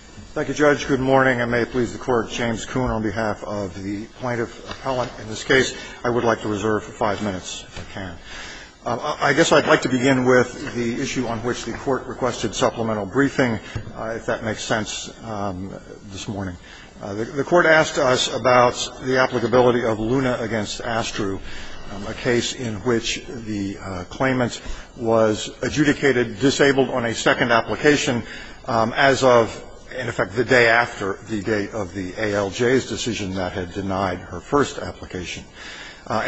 Thank you, Judge. Good morning, and may it please the Court, James Kuhn on behalf of the plaintiff appellant in this case. I would like to reserve five minutes if I can. I guess I'd like to begin with the issue on which the Court requested supplemental briefing, if that makes sense this morning. The Court asked us about the applicability of Luna against Astru, a case in which the claimant was adjudicated disabled on a second application as of, in effect, the day after the date of the ALJ's decision that had denied her first application.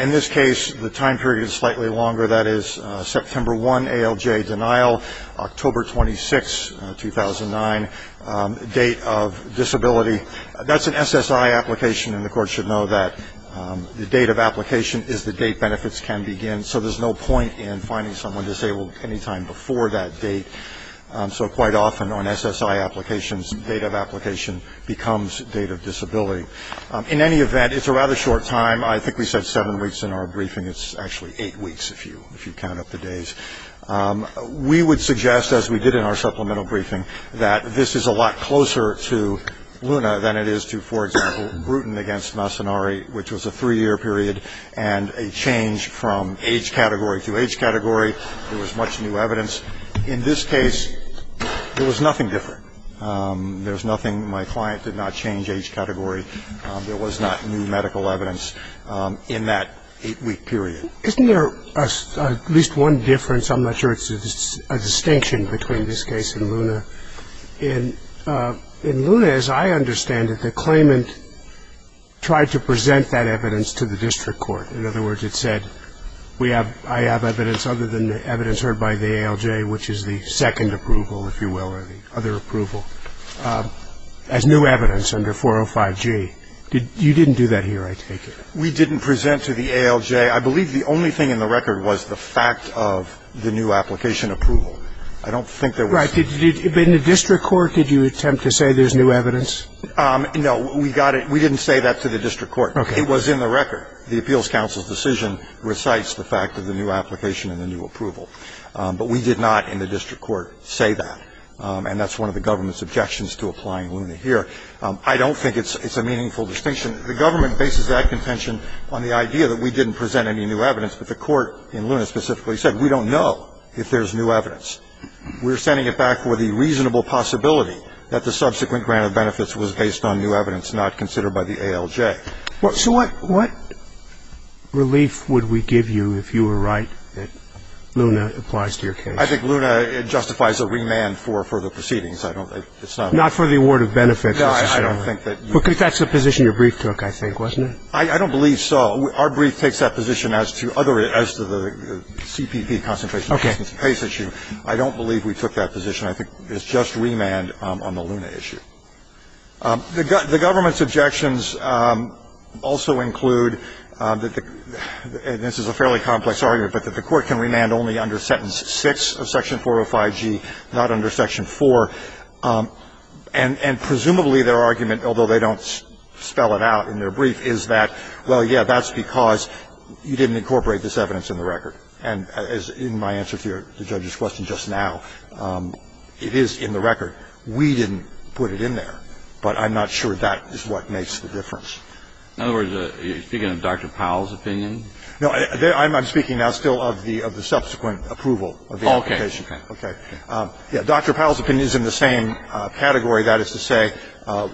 In this case, the time period is slightly longer. That is September 1, ALJ denial, October 26, 2009, date of disability. That's an SSI application, and the Court should know that the date of application is the date benefits can begin, so there's no point in finding someone disabled any time before that date. So quite often on SSI applications, date of application becomes date of disability. In any event, it's a rather short time. I think we said seven weeks in our briefing. It's actually eight weeks if you count up the days. We would suggest, as we did in our supplemental briefing, that this is a lot closer to Luna than it is to, for example, Bruton against Massonari, which was a three-year period and a change from age category to age category. There was much new evidence. In this case, there was nothing different. There was nothing. My client did not change age category. There was not new medical evidence in that eight-week period. Isn't there at least one difference? I'm not sure it's a distinction between this case and Luna. In Luna, as I understand it, the claimant tried to present that evidence to the district court. In other words, it said, I have evidence other than the evidence heard by the ALJ, which is the second approval, if you will, or the other approval, as new evidence under 405G. You didn't do that here, I take it. We didn't present to the ALJ. I believe the only thing in the record was the fact of the new application approval. I don't think there was. Right. In the district court, did you attempt to say there's new evidence? No. We got it. We didn't say that to the district court. Okay. It was in the record. The appeals counsel's decision recites the fact of the new application and the new approval. But we did not in the district court say that. And that's one of the government's objections to applying Luna here. I don't think it's a meaningful distinction. The government bases that contention on the idea that we didn't present any new evidence, but the court in Luna specifically said we don't know if there's new evidence. We're sending it back for the reasonable possibility that the subsequent grant of benefits was based on new evidence not considered by the ALJ. Okay. So what relief would we give you if you were right that Luna applies to your case? I think Luna justifies a remand for further proceedings. I don't think it's not worth it. Not for the award of benefits, necessarily. No, I don't think that you would. Because that's the position your brief took, I think, wasn't it? I don't believe so. Our brief takes that position as to the CPP concentration case issue. I don't believe we took that position. I think it's just remand on the Luna issue. The government's objections also include that the – and this is a fairly complex argument, but that the court can remand only under sentence 6 of section 405G, not under section 4. And presumably their argument, although they don't spell it out in their brief, is that, well, yes, that's because you didn't incorporate this evidence in the record. And in my answer to the judge's question just now, it is in the record. We didn't put it in there. But I'm not sure that is what makes the difference. In other words, you're speaking of Dr. Powell's opinion? No, I'm speaking now still of the subsequent approval of the application. Okay. Okay. Yeah, Dr. Powell's opinion is in the same category. That is to say,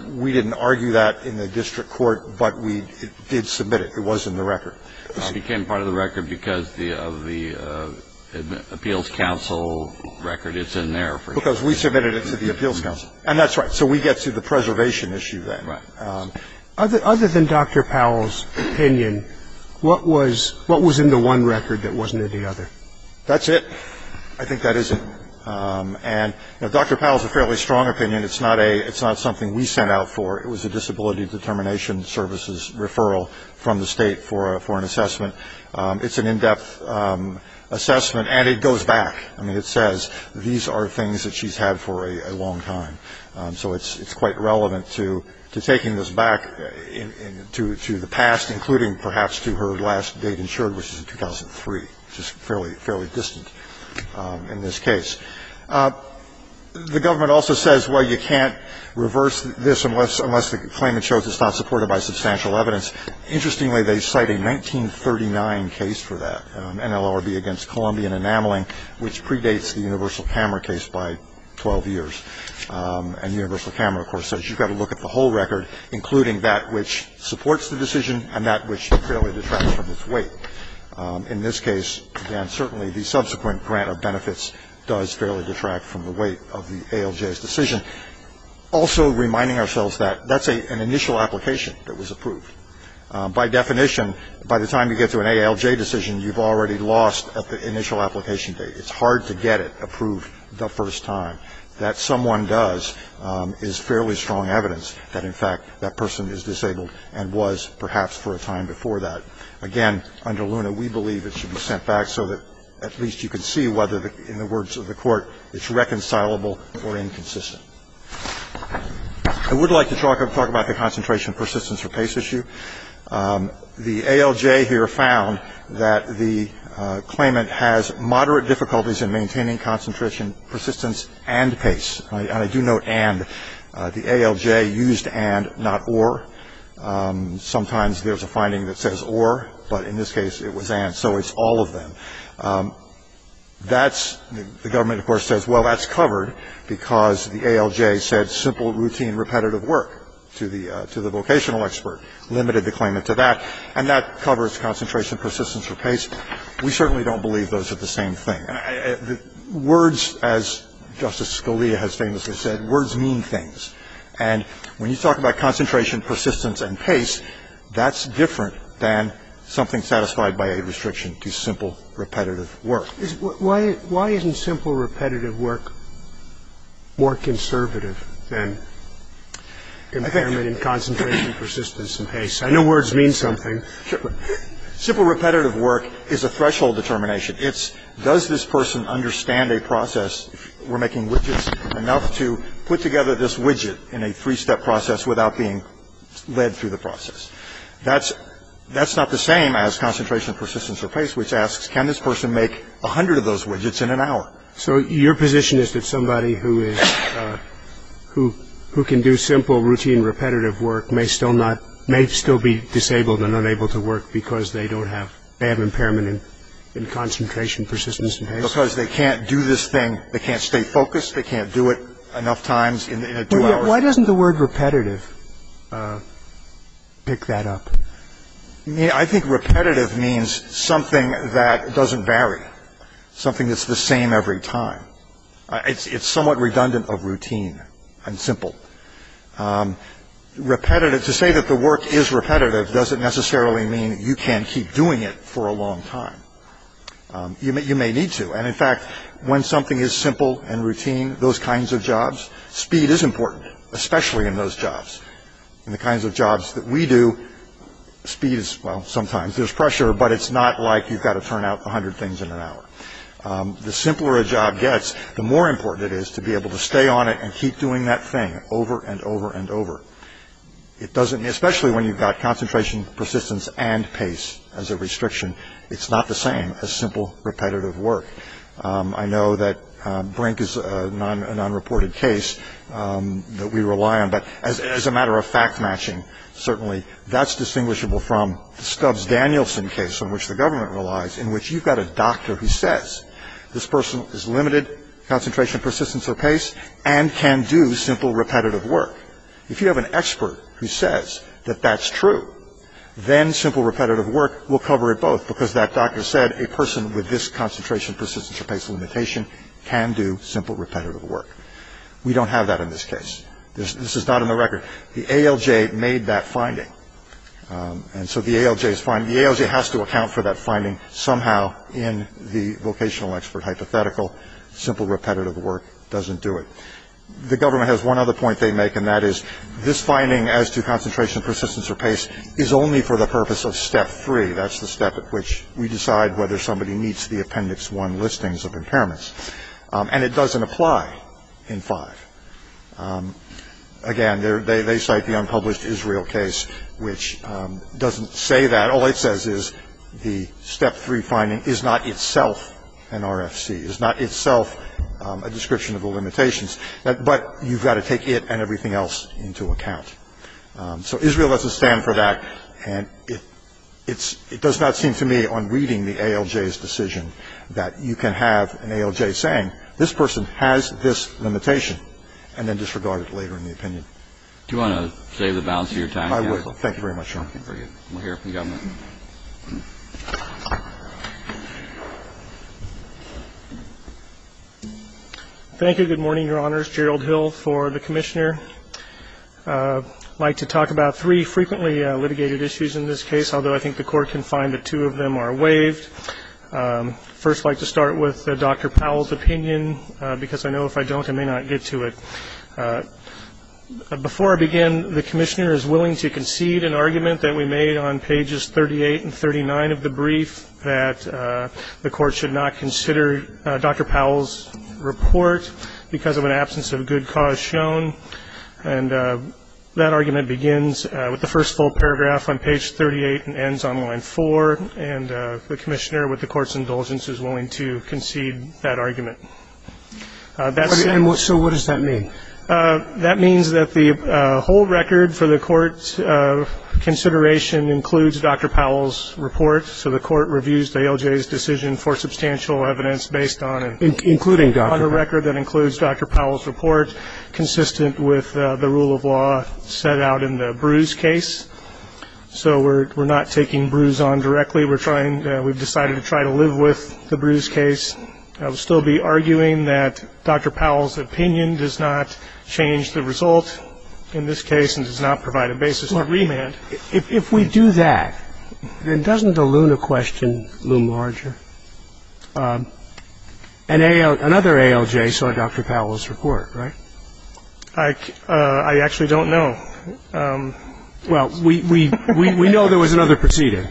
we didn't argue that in the district court, but we did submit it. It was in the record. It became part of the record because of the appeals counsel record. It's in there. Because we submitted it to the appeals counsel. And that's right. So we get to the preservation issue then. Right. Other than Dr. Powell's opinion, what was in the one record that wasn't in the other? That's it. I think that is it. And, you know, Dr. Powell's a fairly strong opinion. It's not a – it's not something we sent out for. It was a disability determination services referral from the State for an assessment. It's an in-depth assessment, and it goes back. I mean, it says these are things that she's had for a long time. So it's quite relevant to taking this back to the past, including perhaps to her last date insured, which is in 2003, which is fairly distant in this case. The government also says, well, you can't reverse this unless the claimant shows it's not supported by substantial evidence. Interestingly, they cite a 1939 case for that, NLRB against Columbian Enameling, which predates the universal camera case by 12 years. And universal camera, of course, says you've got to look at the whole record, including that which supports the decision and that which fairly detracts from its weight. In this case, again, certainly the subsequent grant of benefits does fairly detract from the weight of the ALJ's decision. Also reminding ourselves that that's an initial application that was approved. By definition, by the time you get to an ALJ decision, you've already lost at the initial application date. It's hard to get it approved the first time. That someone does is fairly strong evidence that, in fact, that person is disabled and was perhaps for a time before that. Again, under Luna, we believe it should be sent back so that at least you can see whether, in the words of the court, it's reconcilable or inconsistent. I would like to talk about the concentration, persistence, or pace issue. The ALJ here found that the claimant has moderate difficulties in maintaining concentration, persistence, and pace. And I do note and. The ALJ used and, not or. Sometimes there's a finding that says or, but in this case it was and, so it's all of them. That's the government, of course, says, well, that's covered because the ALJ said simple, routine, repetitive work to the vocational expert limited the claimant to that. And that covers concentration, persistence, or pace. We certainly don't believe those are the same thing. Words, as Justice Scalia has famously said, words mean things. And when you talk about concentration, persistence, and pace, that's different than something satisfied by a restriction to simple, repetitive work. Why isn't simple, repetitive work more conservative than impairment in concentration, persistence, and pace? I know words mean something. Simple, repetitive work is a threshold determination. It's does this person understand a process? We're making widgets enough to put together this widget in a three-step process without being led through the process. That's not the same as concentration, persistence, or pace, which asks, can this person make 100 of those widgets in an hour? So your position is that somebody who can do simple, routine, repetitive work may still not, may still be disabled and unable to work because they don't have bad impairment in concentration, persistence, and pace? Because they can't do this thing. They can't stay focused. They can't do it enough times in a two-hour thing. Why doesn't the word repetitive pick that up? I think repetitive means something that doesn't vary, something that's the same every time. It's somewhat redundant of routine and simple. Repetitive, to say that the work is repetitive doesn't necessarily mean you can't keep doing it for a long time. You may need to. And, in fact, when something is simple and routine, those kinds of jobs, speed is important, especially in those jobs. In the kinds of jobs that we do, speed is, well, sometimes there's pressure, but it's not like you've got to turn out 100 things in an hour. The simpler a job gets, the more important it is to be able to stay on it and keep doing that thing over and over and over. It doesn't, especially when you've got concentration, persistence, and pace as a restriction, it's not the same as simple, repetitive work. I know that Brink is a non-reported case that we rely on, but as a matter of fact-matching, certainly, that's distinguishable from the Stubbs-Danielson case, on which the government relies, in which you've got a doctor who says this person is limited concentration, persistence, or pace and can do simple, repetitive work. If you have an expert who says that that's true, then simple, repetitive work will cover it both, because that doctor said a person with this concentration, persistence, or pace limitation can do simple, repetitive work. We don't have that in this case. This is not in the record. The ALJ made that finding, and so the ALJ has to account for that finding somehow in the vocational expert hypothetical. Simple, repetitive work doesn't do it. The government has one other point they make, and that is this finding as to concentration, persistence, or pace is only for the purpose of Step 3. That's the step at which we decide whether somebody needs the Appendix 1 listings of impairments. And it doesn't apply in 5. Again, they cite the unpublished Israel case, which doesn't say that. All it says is the Step 3 finding is not itself an RFC, is not itself a description of a limitation. So the government has to account for the limitations, but you've got to take it and everything else into account. So Israel doesn't stand for that, and it's — it does not seem to me on reading the ALJ's decision that you can have an ALJ saying this person has this limitation and then disregard it later in the opinion. Do you want to save the balance of your time? I would. Thank you very much, Your Honor. We'll hear from the government. Thank you. Good morning, Your Honors. Gerald Hill for the Commissioner. I'd like to talk about three frequently litigated issues in this case, although I think the Court can find that two of them are waived. First, I'd like to start with Dr. Powell's opinion, because I know if I don't, I may not get to it. Before I begin, the Commissioner is willing to concede an argument that we made on pages 38 and 39 of the brief that the Court should not consider Dr. Powell's report because of an absence of good cause shown. And that argument begins with the first full paragraph on page 38 and ends on line 4. And the Commissioner, with the Court's indulgence, is willing to concede that argument. So what does that mean? That means that the whole record for the Court's consideration includes Dr. Powell's report. So the Court reviews the ALJ's decision for substantial evidence based on a record that includes Dr. Powell's report, consistent with the rule of law set out in the Bruce case. So we're not taking Bruce on directly. We've decided to try to live with the Bruce case. I would still be arguing that Dr. Powell's opinion does not change the result in this case and does not provide a basis for remand. If we do that, then doesn't the Luna question loom larger? Another ALJ saw Dr. Powell's report, right? I actually don't know. Well, we know there was another proceeding.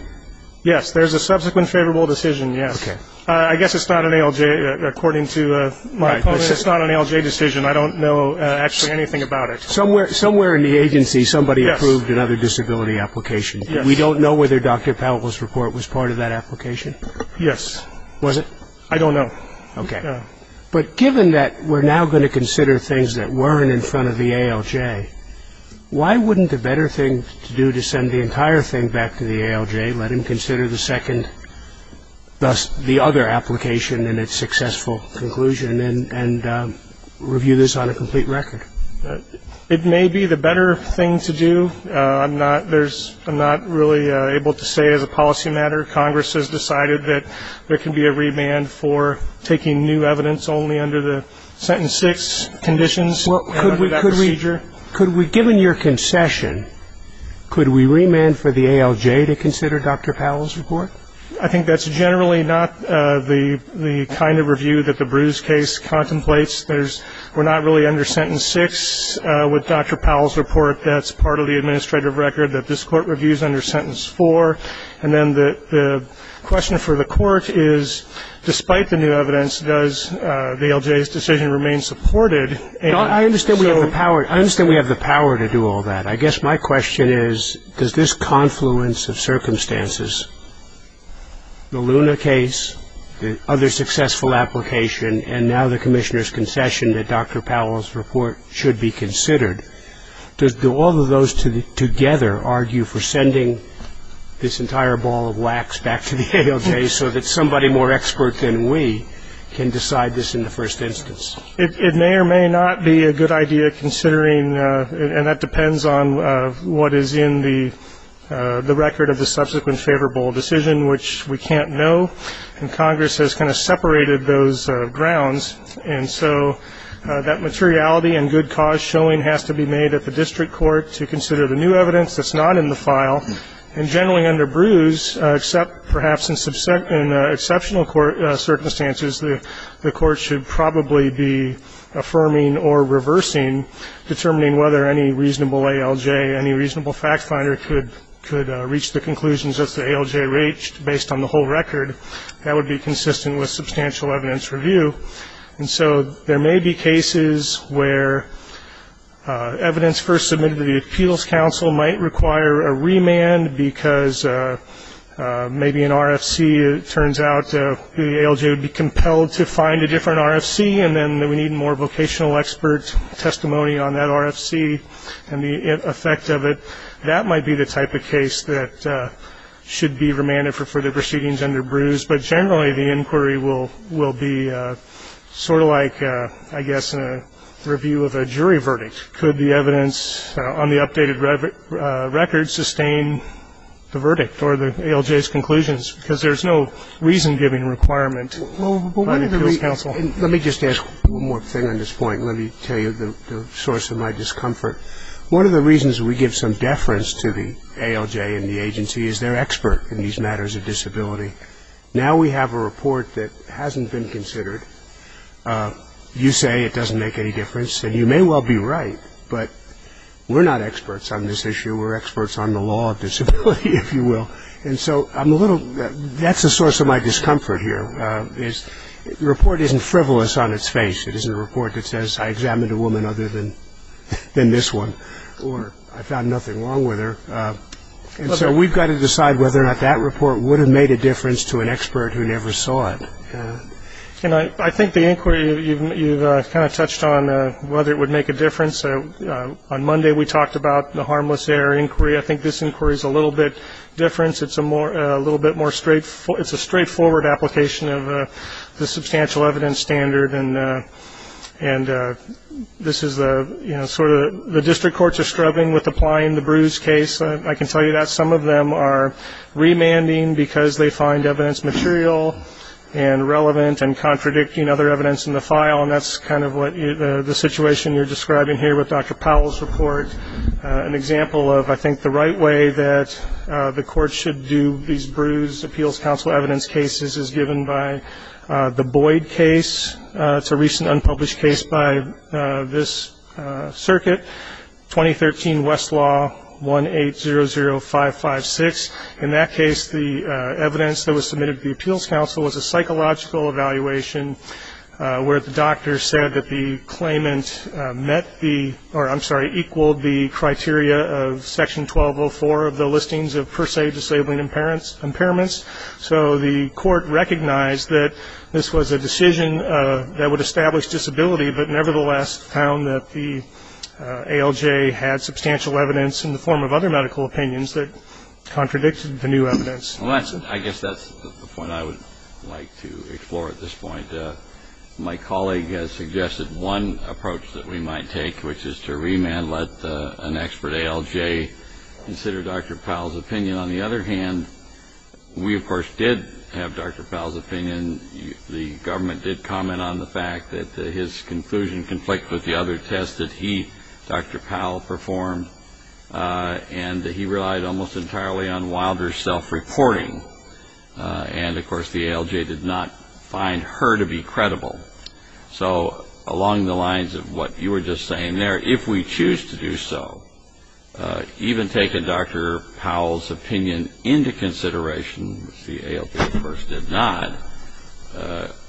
Yes, there's a subsequent favorable decision, yes. I guess it's not an ALJ, according to my opinion, it's not an ALJ decision. I don't know actually anything about it. Somewhere in the agency, somebody approved another disability application. We don't know whether Dr. Powell's report was part of that application? Yes. Was it? I don't know. Okay. But given that we're now going to consider things that weren't in front of the ALJ, why wouldn't the better thing to do to send the entire thing back to the ALJ, let him consider the second, thus the other application in its successful conclusion, and review this on a complete record? It may be the better thing to do. I'm not really able to say as a policy matter. Congress has decided that there can be a remand for taking new evidence only under the sentence six conditions. Could we, given your concession, could we remand for the ALJ to consider Dr. Powell's report? I think that's generally not the kind of review that the Bruce case contemplates. We're not really under sentence six with Dr. Powell's report. That's part of the administrative record that this court reviews under sentence four. And then the question for the court is, despite the new evidence, does the ALJ's decision remain supported? I understand we have the power. I understand we have the power to do all that. I guess my question is, does this confluence of circumstances, the Luna case, the other successful application, and now the commissioner's concession that Dr. Powell's report should be considered, do all of those together argue for sending this entire ball of wax back to the ALJ so that somebody more expert than we can decide this in the first instance? It may or may not be a good idea considering, and that depends on what is in the record of the subsequent favorable decision, which we can't know. And Congress has kind of separated those grounds. And so that materiality and good cause showing has to be made at the district court to consider the new evidence that's not in the file. And generally under Bruce, except perhaps in exceptional circumstances, the court should probably be affirming or reversing, determining whether any reasonable ALJ, any reasonable fact finder, could reach the conclusions that the ALJ reached based on the whole record. That would be consistent with substantial evidence review. And so there may be cases where evidence first submitted to the appeals council might require a remand because maybe an RFC, it turns out, the ALJ would be compelled to find a different RFC, and then we need more vocational expert testimony on that RFC and the effect of it. So that might be the type of case that should be remanded for further proceedings under Bruce. But generally, the inquiry will be sort of like, I guess, a review of a jury verdict. Could the evidence on the updated record sustain the verdict or the ALJ's conclusions? Because there's no reason-giving requirement by the appeals council. Let me just ask one more thing on this point. Let me tell you the source of my discomfort. One of the reasons we give some deference to the ALJ and the agency is they're expert in these matters of disability. Now we have a report that hasn't been considered. You say it doesn't make any difference, and you may well be right, but we're not experts on this issue. We're experts on the law of disability, if you will. And so that's the source of my discomfort here, is the report isn't frivolous on its face. It isn't a report that says, I examined a woman other than this one, or I found nothing wrong with her. And so we've got to decide whether or not that report would have made a difference to an expert who never saw it. And I think the inquiry, you've kind of touched on whether it would make a difference. On Monday, we talked about the harmless error inquiry. I think this inquiry is a little bit different. It's a little bit more straightforward. It's a straightforward application of the substantial evidence standard. And this is sort of the district courts are struggling with applying the bruise case. I can tell you that some of them are remanding because they find evidence material and relevant and contradicting other evidence in the file, and that's kind of the situation you're describing here with Dr. Powell's report. An example of, I think, the right way that the courts should do these bruised appeals council evidence cases is given by the Boyd case. It's a recent unpublished case by this circuit, 2013 Westlaw 1800556. In that case, the evidence that was submitted to the appeals council was a psychological evaluation where the doctor said that the claimant met the or, I'm sorry, equaled the criteria of section 1204 of the listings of per se disabling impairments. So the court recognized that this was a decision that would establish disability, but nevertheless found that the ALJ had substantial evidence in the form of other medical opinions that contradicted the new evidence. Well, I guess that's the point I would like to explore at this point. My colleague has suggested one approach that we might take, which is to remand, let an expert ALJ consider Dr. Powell's opinion. On the other hand, we, of course, did have Dr. Powell's opinion. The government did comment on the fact that his conclusion conflicted with the other test that he, Dr. Powell, performed, and that he relied almost entirely on Wilder's self-reporting. And, of course, the ALJ did not find her to be credible. So along the lines of what you were just saying there, if we choose to do so, even taking Dr. Powell's opinion into consideration, which the ALJ, of course, did not,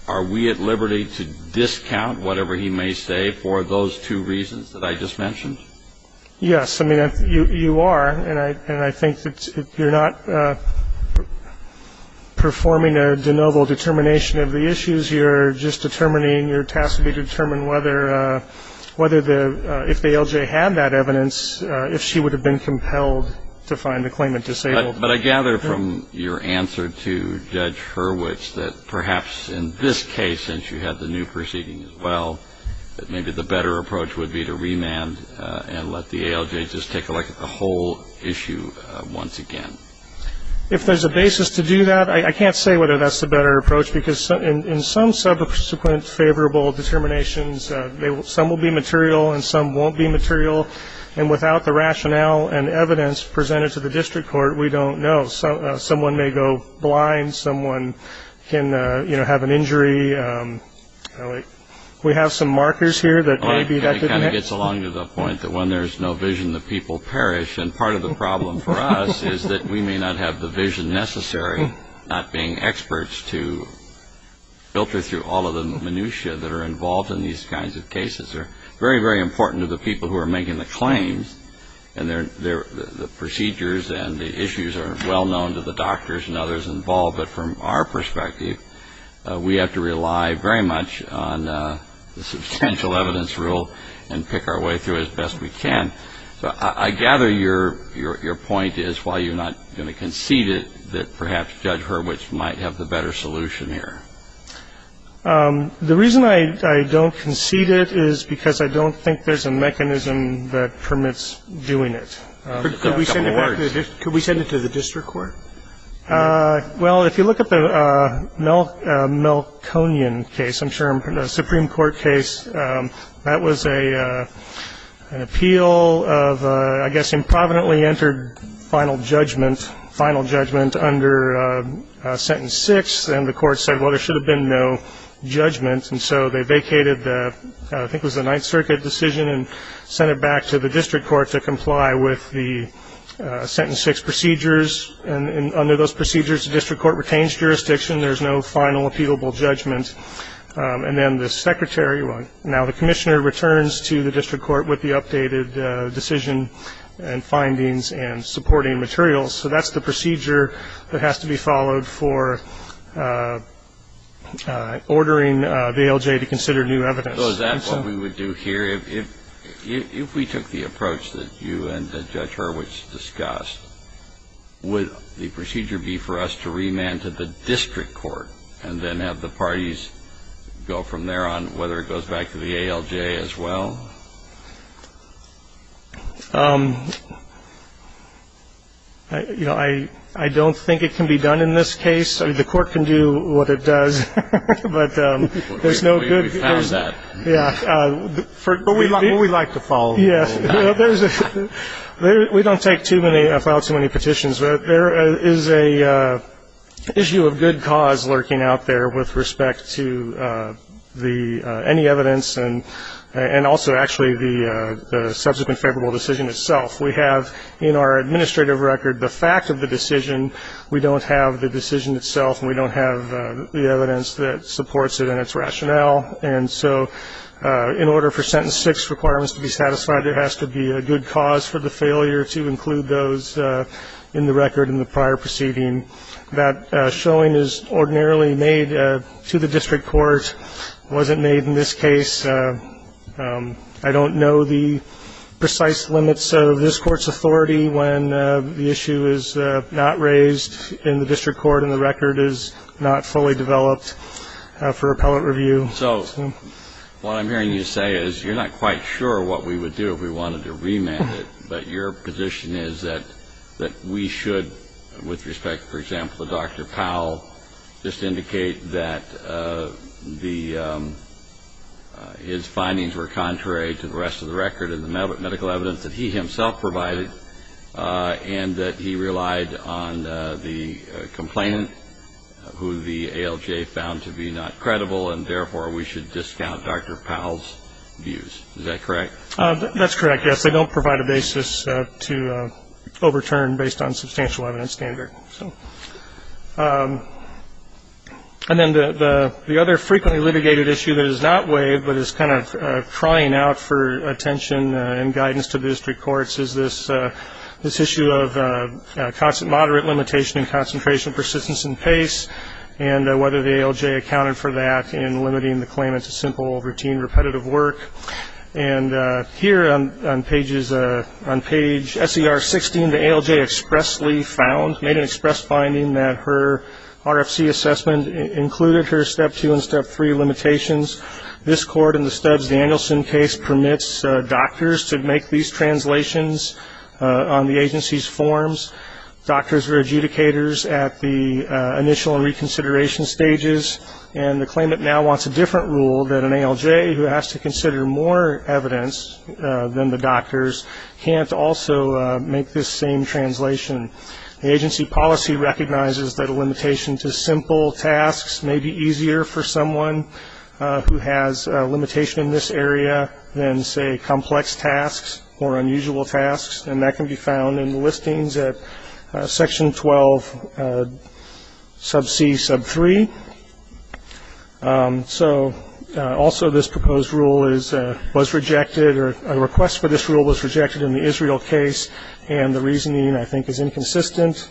are we at liberty to discount whatever he may say for those two reasons that I just mentioned? Yes. I mean, you are. And I think that you're not performing a de novo determination of the issues. You're just determining, your task would be to determine whether the ALJ had that evidence, if she would have been compelled to find the claimant disabled. But I gather from your answer to Judge Hurwitz that perhaps in this case, since you had the new proceeding as well, that maybe the better approach would be to remand and let the ALJ just take a look at the whole issue once again. If there's a basis to do that, I can't say whether that's the better approach, because in some subsequent favorable determinations, some will be material and some won't be material. And without the rationale and evidence presented to the district court, we don't know. Someone may go blind. Someone can have an injury. We have some markers here that maybe that could help. It kind of gets along to the point that when there's no vision, the people perish. And part of the problem for us is that we may not have the vision necessary, not being experts to filter through all of the minutia that are involved in these kinds of cases. They're very, very important to the people who are making the claims, and the procedures and the issues are well known to the doctors and others involved. But from our perspective, we have to rely very much on the substantial evidence rule and pick our way through as best we can. So I gather your point is, while you're not going to concede it, that perhaps Judge Hurwitz might have the better solution here. The reason I don't concede it is because I don't think there's a mechanism that permits doing it. Could we send it to the district court? Well, if you look at the Melkonian case, I'm sure, the Supreme Court case, that was an appeal of, I guess, improvidently entered final judgment, under sentence six, and the court said, well, there should have been no judgment. And so they vacated the, I think it was the Ninth Circuit decision, and sent it back to the district court to comply with the sentence six procedures. And under those procedures, the district court retains jurisdiction. There's no final appealable judgment. And then the secretary, well, now the commissioner returns to the district court with the updated decision and findings and supporting materials. So that's the procedure that has to be followed for ordering the ALJ to consider new evidence. So is that what we would do here? If we took the approach that you and Judge Hurwitz discussed, would the procedure be for us to remand to the district court and then have the parties go from there on whether it goes back to the ALJ as well? You know, I don't think it can be done in this case. I mean, the court can do what it does. But there's no good... We found that. Yeah. But we'd like to follow that. Yeah. We don't take too many, file too many petitions. But there is an issue of good cause lurking out there with respect to any evidence and also actually the subsequent favorable decision itself. We have in our administrative record the fact of the decision. We don't have the decision itself. We don't have the evidence that supports it and its rationale. And so in order for Sentence 6 requirements to be satisfied, there has to be a good cause for the failure to include those in the record in the prior proceeding. That showing is ordinarily made to the district court. It wasn't made in this case. I don't know the precise limits of this court's authority when the issue is not raised in the district court and the record is not fully developed for appellate review. So what I'm hearing you say is you're not quite sure what we would do if we wanted to remand it. But your position is that we should, with respect, for example, to Dr. Powell, just indicate that his findings were contrary to the rest of the record and the medical evidence that he himself provided and that he relied on the complainant who the ALJ found to be not credible, and therefore we should discount Dr. Powell's views. Is that correct? That's correct, yes. Because they don't provide a basis to overturn based on substantial evidence standard. And then the other frequently litigated issue that is not waived but is kind of crying out for attention and guidance to the district courts is this issue of moderate limitation in concentration, persistence, and pace and whether the ALJ accounted for that in limiting the claimant to simple, routine, repetitive work. And here on page SER 16, the ALJ expressly found, made an express finding that her RFC assessment included her Step 2 and Step 3 limitations. This court in the Stubbs-Danielson case permits doctors to make these translations on the agency's forms. Doctors were adjudicators at the initial reconsideration stages, and the claimant now wants a different rule that an ALJ who has to consider more evidence than the doctors can't also make this same translation. The agency policy recognizes that a limitation to simple tasks may be easier for someone who has a limitation in this area than, say, complex tasks or unusual tasks, and that can be found in the listings at section 12 sub c sub 3. So also this proposed rule was rejected, or a request for this rule was rejected in the Israel case, and the reasoning, I think, is inconsistent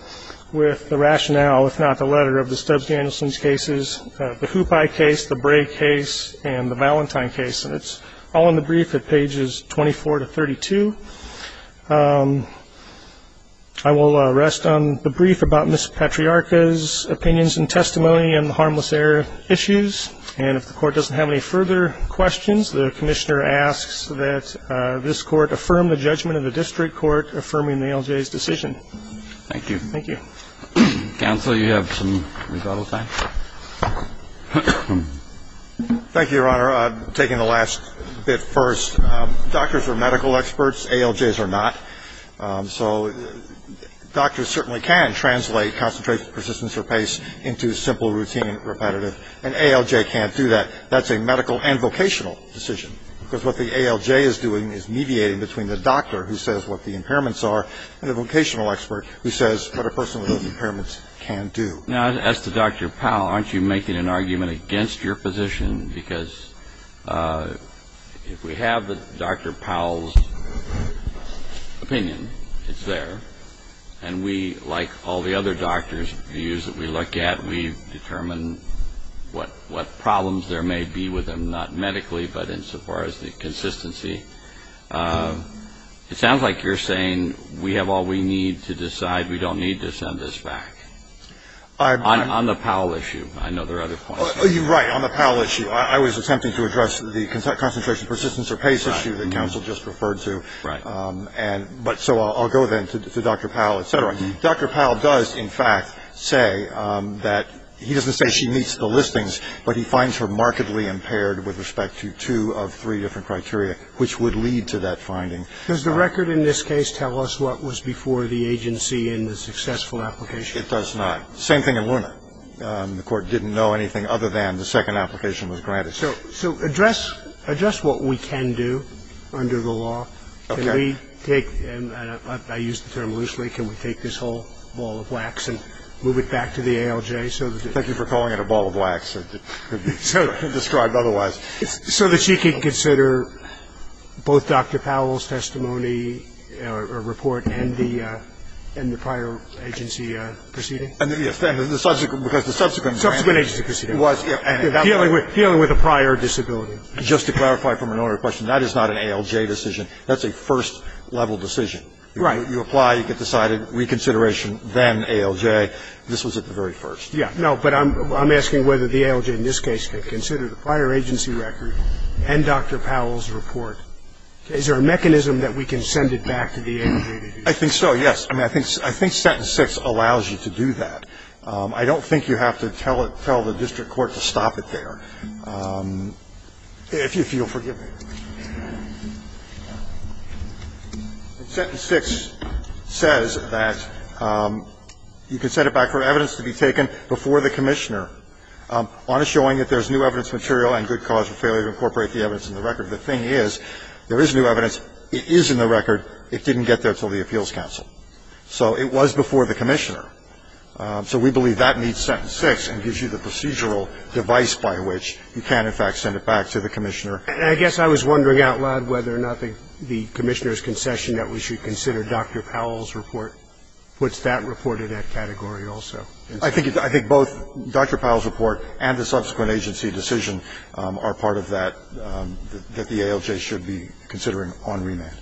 with the rationale, if not the letter, of the Stubbs-Danielson cases, the Hoopi case, the Bray case, and the Valentine case. And it's all in the brief at pages 24 to 32. I will rest on the brief about Ms. Patriarca's opinions and testimony on the harmless error issues, and if the court doesn't have any further questions, the commissioner asks that this court affirm the judgment of the district court affirming the ALJ's decision. Thank you. Thank you. Counsel, you have some rebuttal time. Thank you, Your Honor. Taking the last bit first, doctors are medical experts. ALJs are not. So doctors certainly can translate concentration, persistence, or pace into simple, routine, repetitive, and ALJ can't do that. That's a medical and vocational decision, because what the ALJ is doing is mediating between the doctor who says what the impairments are and the vocational expert who says what a person with those impairments can do. Now, as to Dr. Powell, aren't you making an argument against your position? Because if we have Dr. Powell's opinion, it's there, and we, like all the other doctors' views that we look at, we determine what problems there may be with them, not medically, but insofar as the consistency. It sounds like you're saying we have all we need to decide we don't need to send this back. On the Powell issue. I know there are other points. Right. On the Powell issue. I was attempting to address the concentration, persistence, or pace issue that counsel just referred to. But so I'll go then to Dr. Powell, et cetera. Dr. Powell does, in fact, say that he doesn't say she meets the listings, but he finds her markedly impaired with respect to two of three different criteria, which would lead to that finding. Does the record in this case tell us what was before the agency in the successful application? It does not. Same thing in Luna. The Court didn't know anything other than the second application was granted. So address what we can do under the law. Okay. Can we take, and I use the term loosely, can we take this whole ball of wax and move it back to the ALJ? Thank you for calling it a ball of wax. It could be described otherwise. So that she could consider both Dr. Powell's testimony or report and the prior agency proceeding? Yes. Because the subsequent grant. Subsequent agency proceeding. Dealing with a prior disability. Just to clarify from an earlier question, that is not an ALJ decision. That's a first-level decision. Right. You apply, you get decided, reconsideration, then ALJ. This was at the very first. Yeah. No, but I'm asking whether the ALJ in this case could consider the prior agency record and Dr. Powell's report. Is there a mechanism that we can send it back to the ALJ to do that? I think so, yes. I mean, I think sentence 6 allows you to do that. I don't think you have to tell the district court to stop it there. If you'll forgive me. Sentence 6 says that you can send it back for evidence to be taken before the commissioner on a showing that there's new evidence material and good cause for failure to incorporate the evidence in the record. The thing is, there is new evidence. It is in the record. It didn't get there until the appeals council. So it was before the commissioner. So we believe that meets sentence 6 and gives you the procedural device by which you can, in fact, send it back to the commissioner. I guess I was wondering out loud whether or not the commissioner's concession that we should consider Dr. Powell's report puts that report in that category also. I think both Dr. Powell's report and the subsequent agency decision are part of that, that the ALJ should be considering on remand.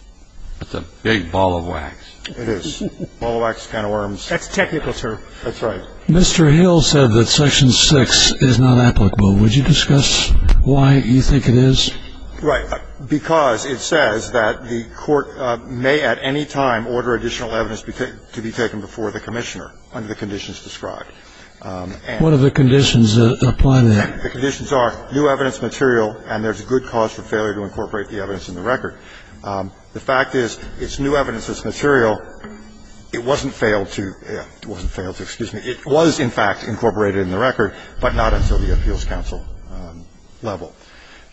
That's a big ball of wax. It is. Ball of wax, can of worms. That's a technical term. That's right. Mr. Hill said that section 6 is not applicable. Mr. Hill, would you discuss why you think it is? Right. Because it says that the court may at any time order additional evidence to be taken before the commissioner under the conditions described. What are the conditions that apply there? The conditions are new evidence material and there's good cause for failure to incorporate the evidence in the record. The fact is, it's new evidence that's material. It wasn't failed to, it wasn't failed to, excuse me, it was, in fact, incorporated in the record, but not until the appeals counsel level.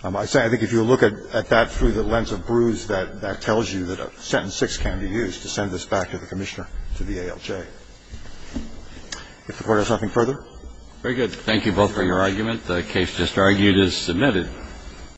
I think if you look at that through the lens of Bruce, that tells you that sentence 6 can be used to send this back to the commissioner, to the ALJ. If the Court has nothing further. Very good. Thank you both for your argument. The case just argued is submitted.